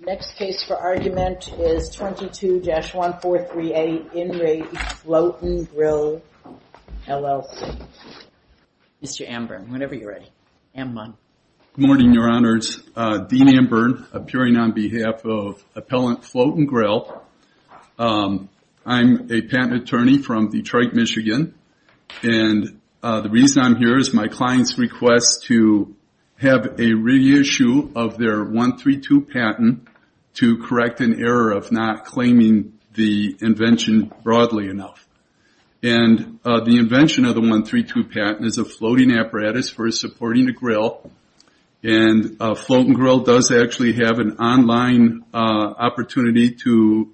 Next case for argument is 22-1438, In Re Float'N''Grill LLC. Mr. Amburn, whenever you're ready. Good morning, Your Honors. Dean Amburn, appearing on behalf of Appellant Float'N''Grill. I'm a patent attorney from Detroit, Michigan. And the reason I'm here is my client's request to have a reissue of their 132 patent to correct an error of not claiming the invention broadly enough. And the invention of the 132 patent is a floating apparatus for supporting a grill. And Float'N''Grill does actually have an online opportunity to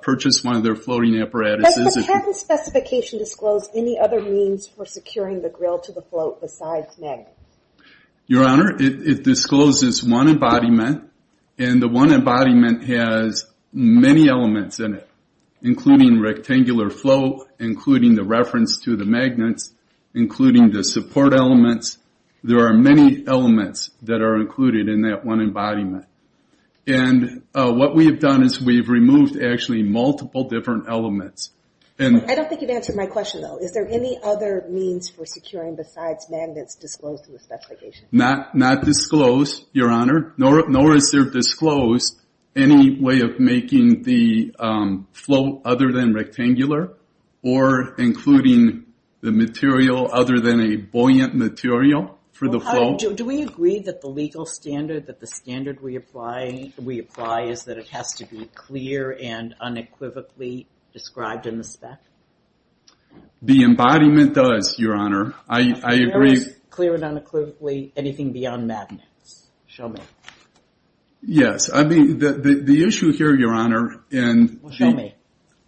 purchase one of their floating apparatuses. Does the patent specification disclose any other means for securing the grill to the float besides MIG? Your Honor, it discloses one embodiment. And the one embodiment has many elements in it, including rectangular float, including the reference to the magnets, including the support elements. There are many elements that are included in that one embodiment. And what we have done is we've removed actually multiple different elements. I don't think you've answered my question, though. Is there any other means for securing besides magnets disclosed in the specification? Not disclosed, Your Honor, nor is there disclosed any way of making the float other than rectangular or including the material other than a buoyant material for the float. Do we agree that the legal standard that the standard we apply is that it has to be clear and unequivocally described in the spec? The embodiment does, Your Honor. I agree. Clear and unequivocally, anything beyond magnets? Show me. Yes. I mean, the issue here, Your Honor, and... Well, show me.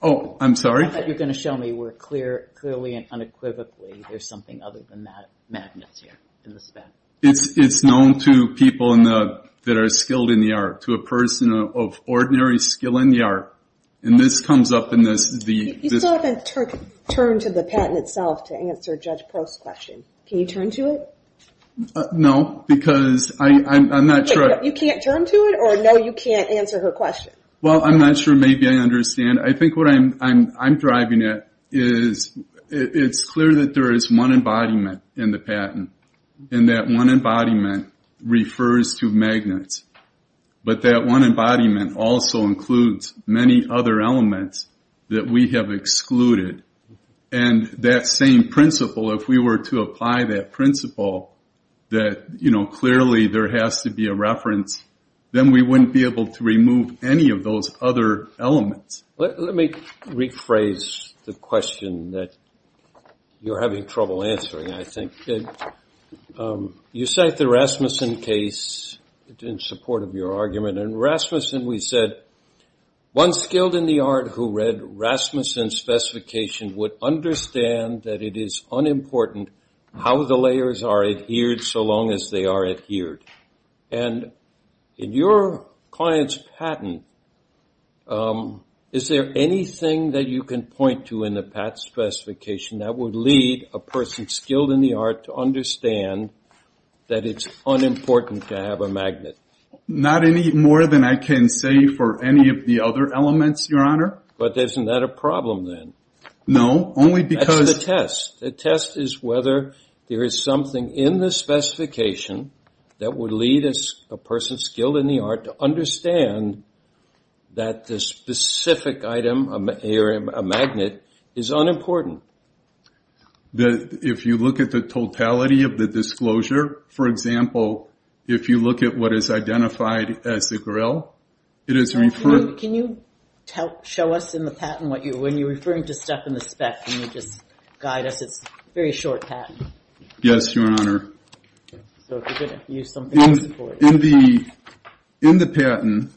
Oh, I'm sorry? I thought you were going to show me where clear, clearly and unequivocally there's something other than magnets here in the spec. It's known to people that are skilled in the art, to a person of ordinary skill in the art. And this comes up in the... You still haven't turned to the patent itself to answer Judge Pearl's question. Can you turn to it? No, because I'm not sure... You can't turn to it, or no, you can't answer her question? Well, I'm not sure maybe I understand. I think what I'm driving at is it's clear that there is one embodiment in the patent, and that one embodiment refers to magnets. But that one embodiment also includes many other elements that we have excluded. And that same principle, if we were to apply that principle, that clearly there has to be a reference, then we wouldn't be able to remove any of those other elements. Let me rephrase the question that you're having trouble answering, I think. You cite the Rasmussen case in support of your argument. In Rasmussen we said, one skilled in the art who read Rasmussen's specification would understand that it is unimportant how the layers are adhered so long as they are adhered. And in your client's patent, is there anything that you can point to in the patent specification that would lead a person skilled in the art to understand that it's unimportant to have a magnet? Not any more than I can say for any of the other elements, Your Honor. But isn't that a problem then? No, only because... That's the test. The test is whether there is something in the specification that would lead a person skilled in the art to understand that the specific item, a magnet, is unimportant. If you look at the totality of the disclosure, for example, if you look at what is identified as the grill, it is referred... Can you show us in the patent what you... When you're referring to stuff in the spec, can you just guide us? It's a very short patent. Yes, Your Honor. So if you're going to use something... In the patent,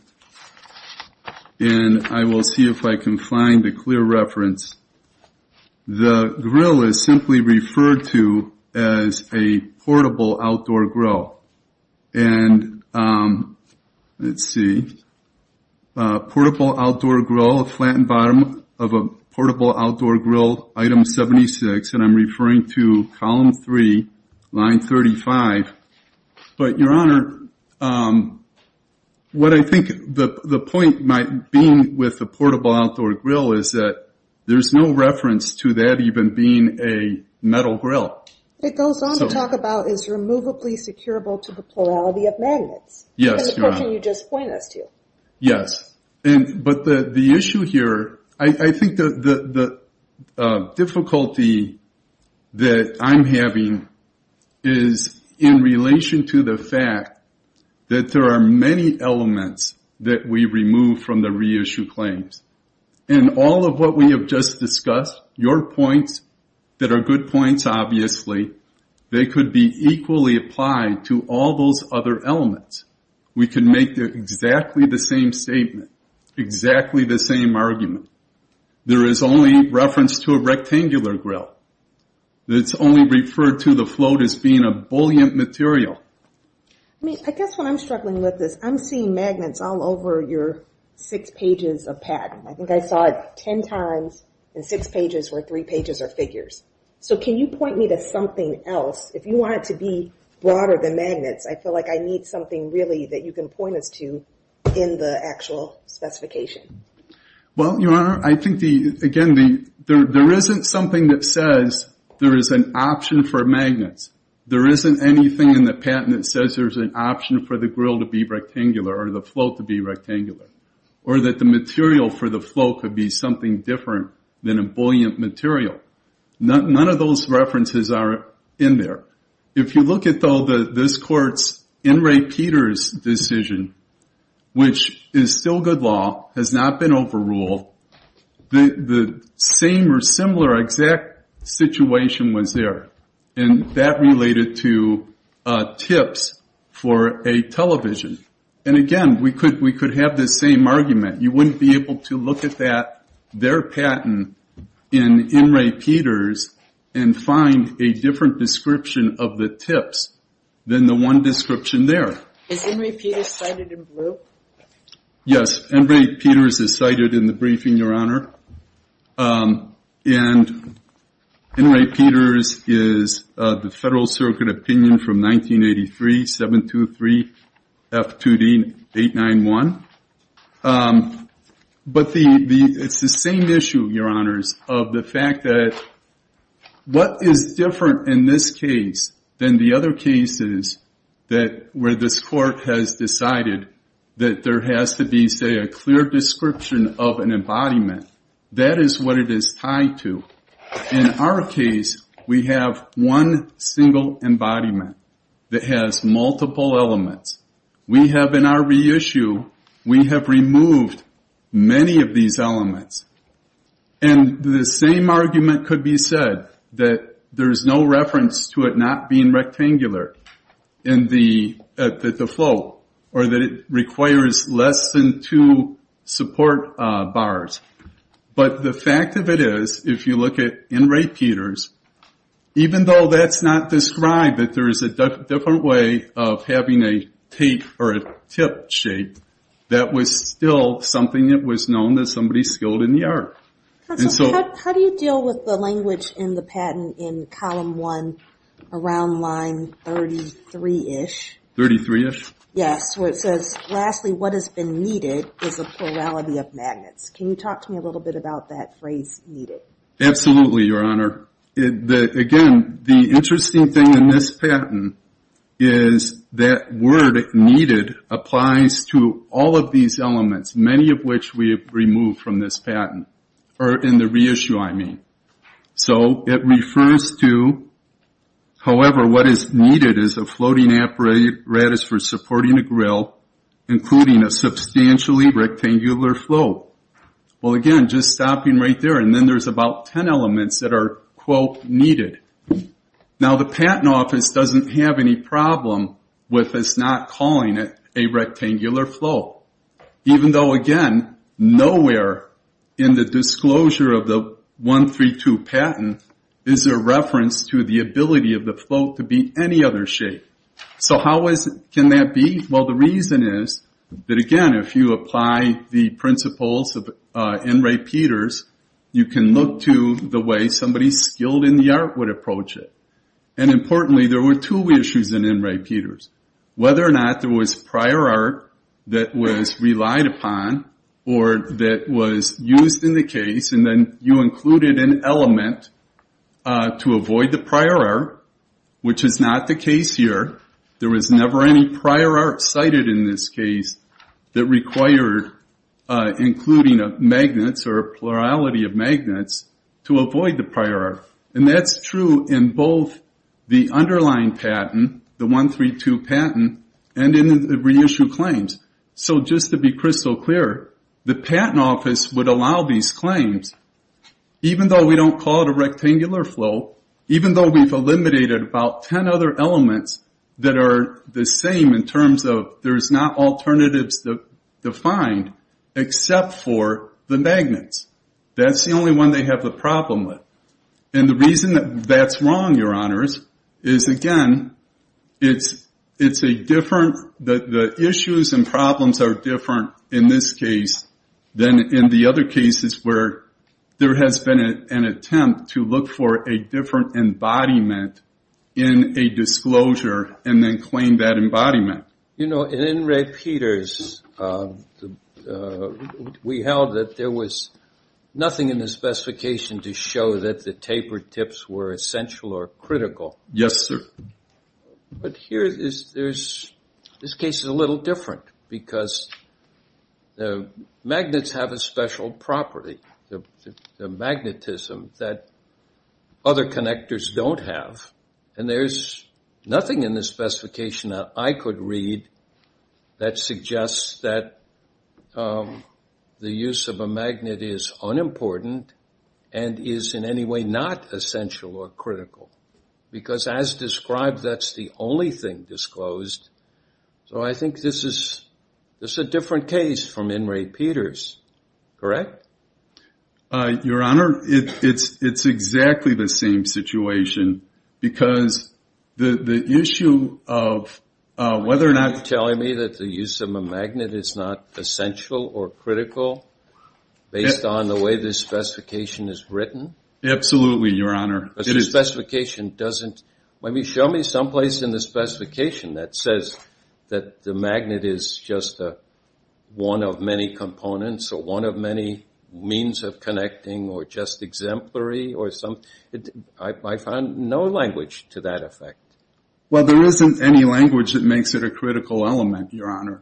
and I will see if I can find a clear reference, the grill is simply referred to as a portable outdoor grill. And let's see. Portable outdoor grill, flattened bottom of a portable outdoor grill, item 76, and I'm referring to column 3, line 35. But, Your Honor, what I think the point might be with the portable outdoor grill is that there's no reference to that even being a metal grill. It goes on to talk about is removably securable to the plurality of magnets. Yes, Your Honor. The question you just pointed us to. Yes. But the issue here, I think the difficulty that I'm having is in relation to the fact that there are many elements that we remove from the reissue claims. And all of what we have just discussed, your points that are good points, obviously, they could be equally applied to all those other elements. We can make exactly the same statement, exactly the same argument. There is only reference to a rectangular grill. It's only referred to the float as being a bullion material. I guess what I'm struggling with is I'm seeing magnets all over your six pages of patent. I think I saw it ten times in six pages where three pages are figures. So can you point me to something else? If you want it to be broader than magnets, I feel like I need something really that you can point us to in the actual specification. Well, Your Honor, I think, again, there isn't something that says there is an option for magnets. There isn't anything in the patent that says there's an option for the grill to be rectangular or the float to be rectangular. Or that the material for the float could be something different than a bullion material. None of those references are in there. If you look at, though, this Court's In re Peters decision, which is still good law, has not been overruled, the same or similar exact situation was there, and that related to tips for a television. And, again, we could have the same argument. You wouldn't be able to look at their patent in In re Peters and find a different description of the tips than the one description there. Is In re Peters cited in blue? Yes, In re Peters is cited in the briefing, Your Honor. And In re Peters is the Federal Circuit opinion from 1983-723-F2D-891. But it's the same issue, Your Honors, of the fact that what is different in this case than the other cases where this Court has decided that there has to be, say, a clear description of an embodiment, that is what it is tied to. In our case, we have one single embodiment that has multiple elements. We have, in our reissue, we have removed many of these elements. And the same argument could be said, that there's no reference to it not being rectangular at the flow, or that it requires less than two support bars. But the fact of it is, if you look at In re Peters, even though that's not described, that there is a different way of having a tape or a tip shape, that was still something that was known as somebody skilled in the art. How do you deal with the language in the patent in column one, around line 33-ish? 33-ish? Yes, where it says, lastly, what has been needed is a plurality of magnets. Can you talk to me a little bit about that phrase, needed? Absolutely, Your Honor. Again, the interesting thing in this patent is that word, needed, applies to all of these elements, many of which we have removed from this patent, or in the reissue, I mean. So it refers to, however, what is needed is a floating apparatus for supporting a grill, including a substantially rectangular float. Well, again, just stopping right there. And then there's about 10 elements that are, quote, needed. Now, the patent office doesn't have any problem with us not calling it a rectangular float, even though, again, nowhere in the disclosure of the 132 patent is there reference to the ability of the float to be any other shape. So how can that be? Well, the reason is that, again, if you apply the principles of In re Peters, you can look to the way somebody skilled in the art would approach it. And importantly, there were two reissues in In re Peters, whether or not there was prior art that was relied upon or that was used in the case, and then you included an element to avoid the prior art, which is not the case here. There was never any prior art cited in this case that required including magnets or a plurality of magnets to avoid the prior art. And that's true in both the underlying patent, the 132 patent, and in the reissue claims. So just to be crystal clear, the patent office would allow these claims, even though we don't call it a rectangular float, even though we've eliminated about 10 other elements that are the same in terms of there's not alternatives defined except for the magnets. That's the only one they have the problem with. And the reason that that's wrong, Your Honors, is, again, it's a different issues and problems are different in this case than in the other cases where there has been an attempt to look for a different embodiment in a disclosure and then claim that embodiment. You know, in re Peters, we held that there was nothing in the specification to show that the tapered tips were essential or critical. Yes, sir. But here, this case is a little different because the magnets have a special property, the magnetism that other connectors don't have. And there's nothing in the specification that I could read that suggests that the use of a magnet is unimportant and is in any way not essential or critical. Because as described, that's the only thing disclosed. So I think this is a different case from in re Peters, correct? Your Honor, it's exactly the same situation because the issue of whether or not. Are you telling me that the use of a magnet is not essential or critical based on the way this specification is written? Absolutely, Your Honor. But the specification doesn't. Show me someplace in the specification that says that the magnet is just one of many components or one of many means of connecting or just exemplary or something. I find no language to that effect. Well, there isn't any language that makes it a critical element, Your Honor.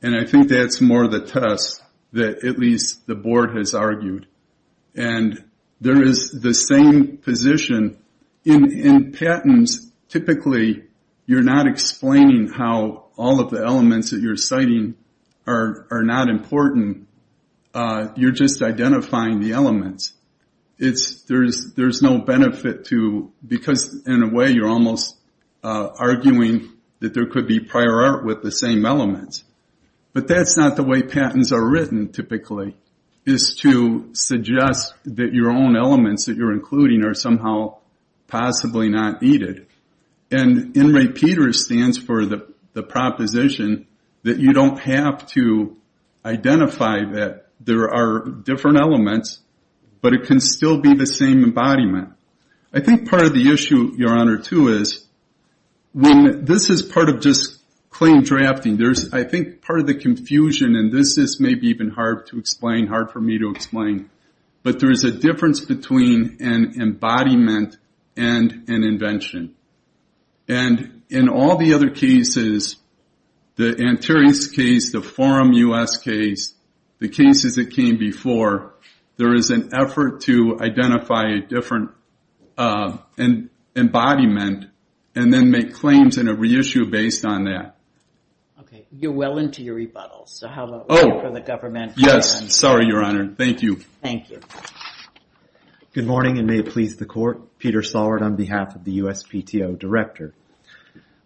And I think that's more the test that at least the board has argued. And there is the same position. In patents, typically you're not explaining how all of the elements that you're citing are not important. You're just identifying the elements. There's no benefit to, because in a way you're almost arguing that there could be prior art with the same elements. But that's not the way patents are written, typically, is to suggest that your own elements that you're including are somehow possibly not needed. And in re Peters stands for the proposition that you don't have to identify that there are different elements, but it can still be the same embodiment. I think part of the issue, Your Honor, too, is when this is part of just claim drafting, I think part of the confusion, and this is maybe even hard to explain, hard for me to explain, but there is a difference between an embodiment and an invention. And in all the other cases, the Antares case, the Forum U.S. case, the cases that came before, there is an effort to identify a different embodiment and then make claims and a reissue based on that. Okay, you're well into your rebuttals, so how about we go for the government. Yes, sorry, Your Honor, thank you. Thank you. Good morning, and may it please the court. Peter Salward on behalf of the USPTO Director.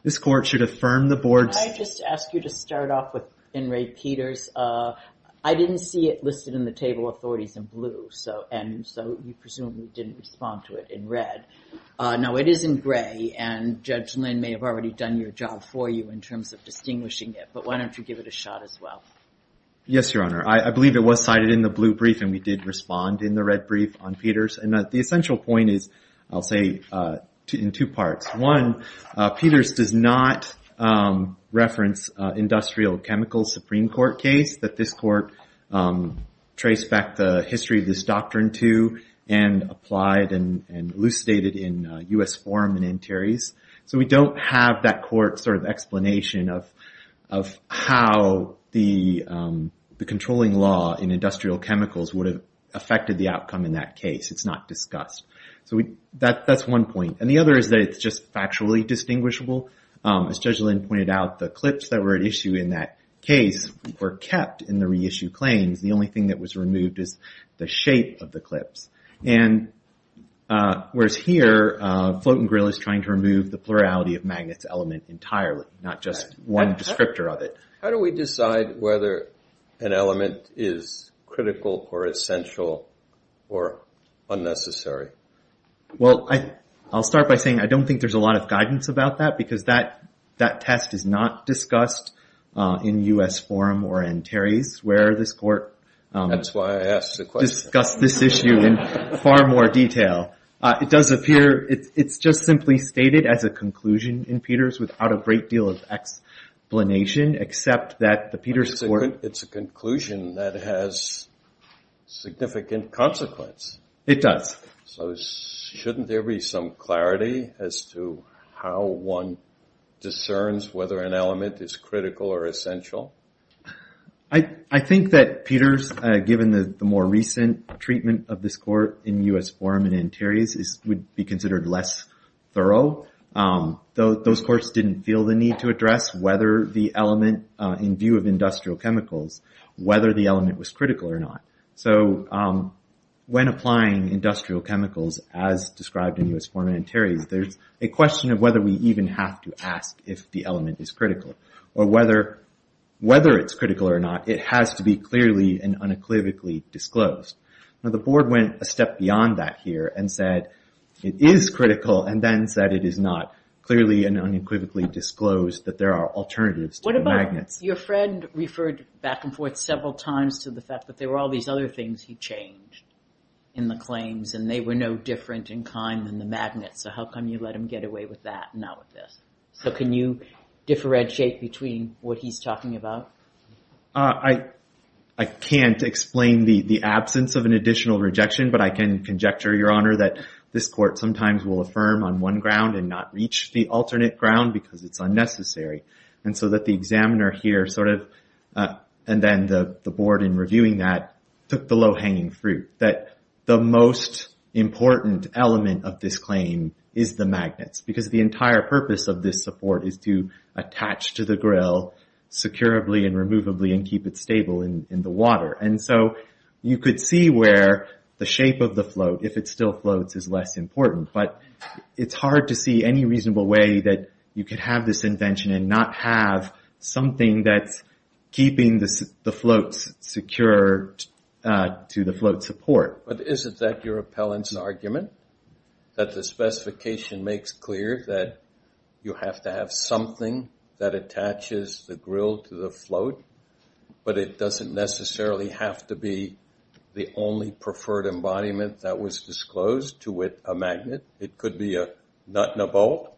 This court should affirm the board's- I just ask you to start off with in re Peters. I didn't see it listed in the table of authorities in blue, and so you presumably didn't respond to it in red. Now, it is in gray, and Judge Lynn may have already done your job for you in terms of distinguishing it, but why don't you give it a shot as well. Yes, Your Honor. I believe it was cited in the blue brief, and we did respond in the red brief on Peters. And the essential point is, I'll say, in two parts. One, Peters does not reference industrial chemicals Supreme Court case that this court traced back the history of this doctrine to and applied and elucidated in U.S. forum in interiors. So we don't have that court sort of explanation of how the controlling law in industrial chemicals would have affected the outcome in that case. It's not discussed. So that's one point. And the other is that it's just factually distinguishable. As Judge Lynn pointed out, the clips that were at issue in that case were kept in the reissued claims. The only thing that was removed is the shape of the clips. And whereas here, Float and Grill is trying to remove the plurality of magnets element entirely, not just one descriptor of it. How do we decide whether an element is critical or essential or unnecessary? Well, I'll start by saying I don't think there's a lot of guidance about that, because that test is not discussed in U.S. forum or interiors where this court discussed this issue in far more detail. It does appear it's just simply stated as a conclusion in Peters without a great deal of explanation, except that the Peters court- It's a conclusion that has significant consequence. It does. So shouldn't there be some clarity as to how one discerns whether an element is critical or essential? I think that Peters, given the more recent treatment of this court in U.S. forum and interiors, would be considered less thorough. Those courts didn't feel the need to address whether the element, in view of industrial chemicals, whether the element was critical or not. So when applying industrial chemicals as described in U.S. forum and interiors, there's a question of whether we even have to ask if the element is critical. Or whether it's critical or not, it has to be clearly and unequivocally disclosed. Now the board went a step beyond that here and said it is critical and then said it is not. Clearly and unequivocally disclosed that there are alternatives to magnets. Your friend referred back and forth several times to the fact that there were all these other things he changed in the claims. And they were no different in kind than the magnets. So how come you let him get away with that and not with this? So can you differentiate between what he's talking about? I can't explain the absence of an additional rejection. But I can conjecture, Your Honor, that this court sometimes will affirm on one ground and not reach the alternate ground because it's unnecessary. And so that the examiner here sort of, and then the board in reviewing that, took the low-hanging fruit. That the most important element of this claim is the magnets. Because the entire purpose of this support is to attach to the grill securably and removably and keep it stable in the water. And so you could see where the shape of the float, if it still floats, is less important. But it's hard to see any reasonable way that you could have this invention and not have something that's keeping the floats secure to the float support. But isn't that your appellant's argument? That the specification makes clear that you have to have something that attaches the grill to the float. But it doesn't necessarily have to be the only preferred embodiment that was disclosed to it, a magnet. It could be a nut and a bolt.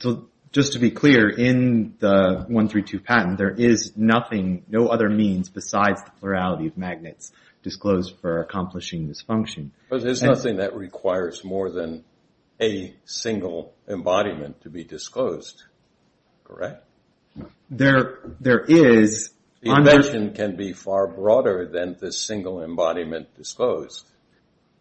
So just to be clear, in the 132 patent, there is nothing, no other means besides the plurality of magnets disclosed for accomplishing this function. But there's nothing that requires more than a single embodiment to be disclosed. Correct. There is. The invention can be far broader than the single embodiment disclosed.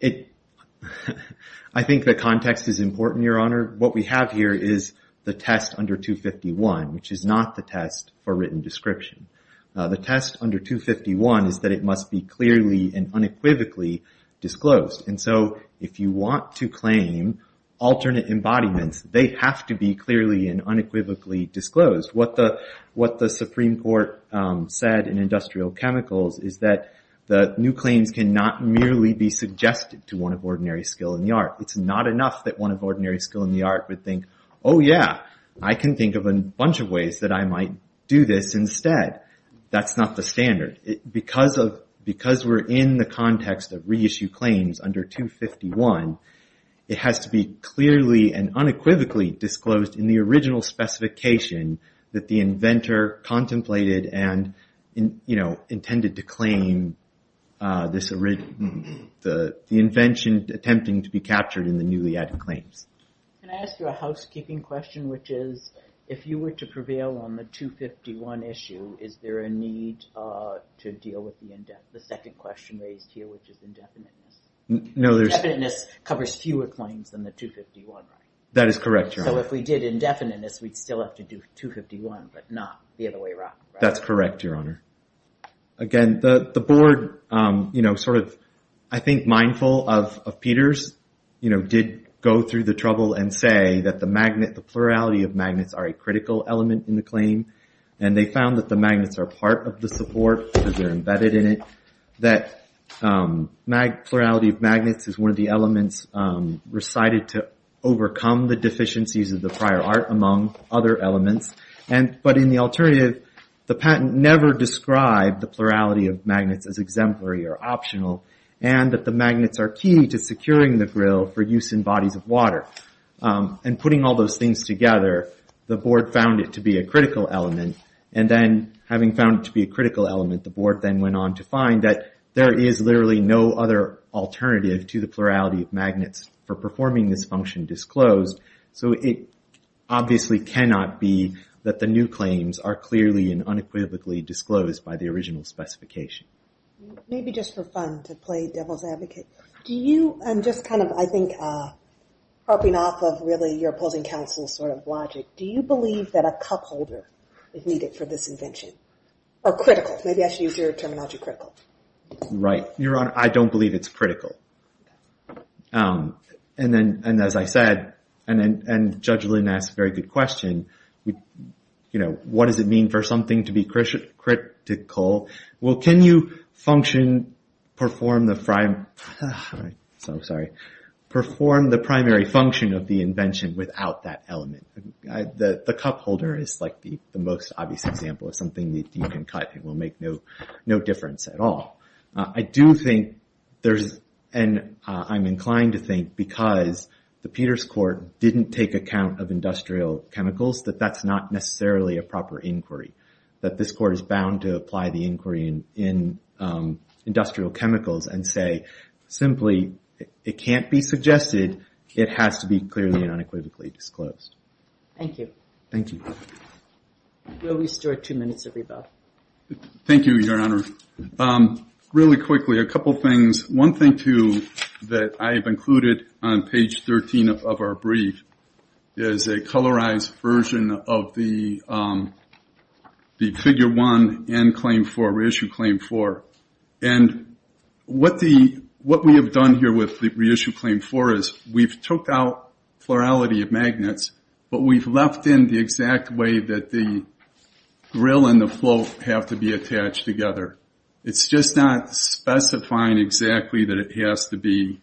I think the context is important, Your Honor. What we have here is the test under 251, which is not the test for written description. The test under 251 is that it must be clearly and unequivocally disclosed. And so if you want to claim alternate embodiments, they have to be clearly and unequivocally disclosed. What the Supreme Court said in Industrial Chemicals is that the new claims cannot merely be suggested to one of ordinary skill in the art. It's not enough that one of ordinary skill in the art would think, oh yeah, I can think of a bunch of ways that I might do this instead. That's not the standard. Because we're in the context of reissue claims under 251, it has to be clearly and unequivocally disclosed in the original specification that the inventor contemplated and intended to claim the invention attempting to be captured in the newly added claims. Can I ask you a housekeeping question, which is, if you were to prevail on the 251 issue, is there a need to deal with the second question raised here, which is indefiniteness? Indefiniteness covers fewer claims than the 251, right? That is correct, Your Honor. So if we did indefiniteness, we'd still have to do 251, but not the other way around, right? That's correct, Your Honor. Again, the board, I think mindful of Peters, did go through the trouble and say that the plurality of magnets are a critical element in the claim. And they found that the magnets are part of the support because they're embedded in it. That plurality of magnets is one of the elements recited to overcome the deficiencies of the prior art, among other elements. But in the alternative, the patent never described the plurality of magnets as exemplary or optional, and that the magnets are key to securing the grill for use in bodies of water. And putting all those things together, the board found it to be a critical element. And then, having found it to be a critical element, the board then went on to find that there is literally no other alternative to the plurality of magnets for performing this function disclosed. So it obviously cannot be that the new claims are clearly and unequivocally disclosed by the original specification. Maybe just for fun, to play devil's advocate, I'm just kind of, I think, harping off of really your opposing counsel's sort of logic. Do you believe that a cup holder is needed for this invention? Or critical, maybe I should use your terminology, critical. Right. Your Honor, I don't believe it's critical. And as I said, and Judge Lynn asked a very good question, what does it mean for something to be critical? Well, can you perform the primary function of the invention without that element? The cup holder is the most obvious example of something that you can cut and will make no difference at all. I do think there's, and I'm inclined to think, because the Peters Court didn't take account of industrial chemicals, that that's not necessarily a proper inquiry. That this court is bound to apply the inquiry in industrial chemicals and say, simply, it can't be suggested, it has to be clearly and unequivocally disclosed. Thank you. Thank you. We'll restore two minutes of rebuttal. Thank you, Your Honor. Really quickly, a couple things. One thing, too, that I have included on page 13 of our brief is a colorized version of the figure one and claim four, reissue claim four. And what we have done here with the reissue claim four is we've took out plurality of magnets, but we've left in the exact way that the grill and the float have to be attached together. It's just not specifying exactly that it has to be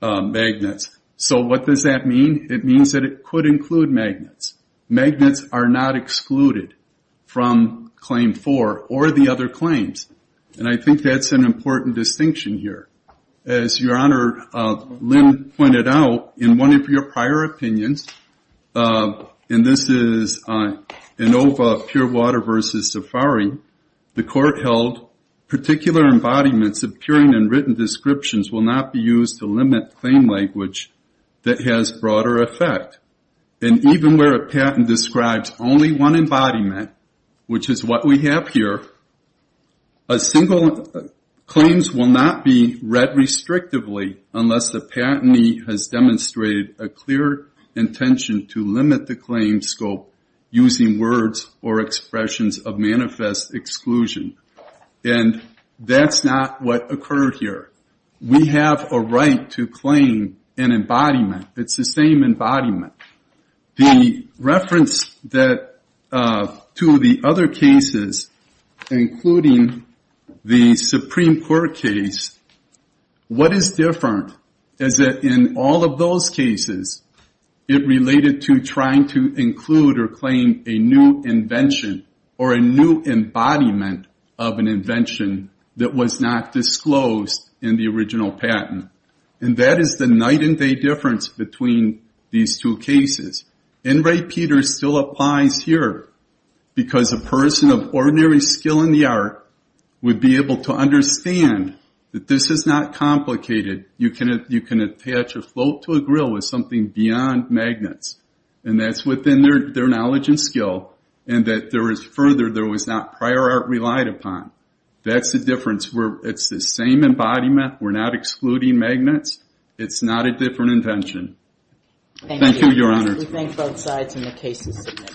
magnets. So what does that mean? It means that it could include magnets. Magnets are not excluded from claim four or the other claims. And I think that's an important distinction here. As Your Honor, Lynn pointed out, in one of your prior opinions, and this is ANOVA, pure water versus safari, the court held, particular embodiments appearing in written descriptions will not be used to limit claim language that has broader effect. And even where a patent describes only one embodiment, which is what we have here, single claims will not be read restrictively unless the patentee has demonstrated a clear intention to limit the claim scope using words or expressions of manifest exclusion. And that's not what occurred here. We have a right to claim an embodiment. It's the same embodiment. The reference to the other cases, including the Supreme Court case, what is different is that in all of those cases, it related to trying to include or claim a new invention or a new embodiment of an invention that was not disclosed in the original patent. And that is the night and day difference between these two cases. N. Ray Peters still applies here because a person of ordinary skill in the art would be able to understand that this is not complicated. You can attach a float to a grill with something beyond magnets, and that's within their knowledge and skill, and that there is further, there was not prior art relied upon. That's the difference. It's the same embodiment. We're not excluding magnets. It's not a different invention. Thank you, Your Honor. We thank both sides in the cases submitted.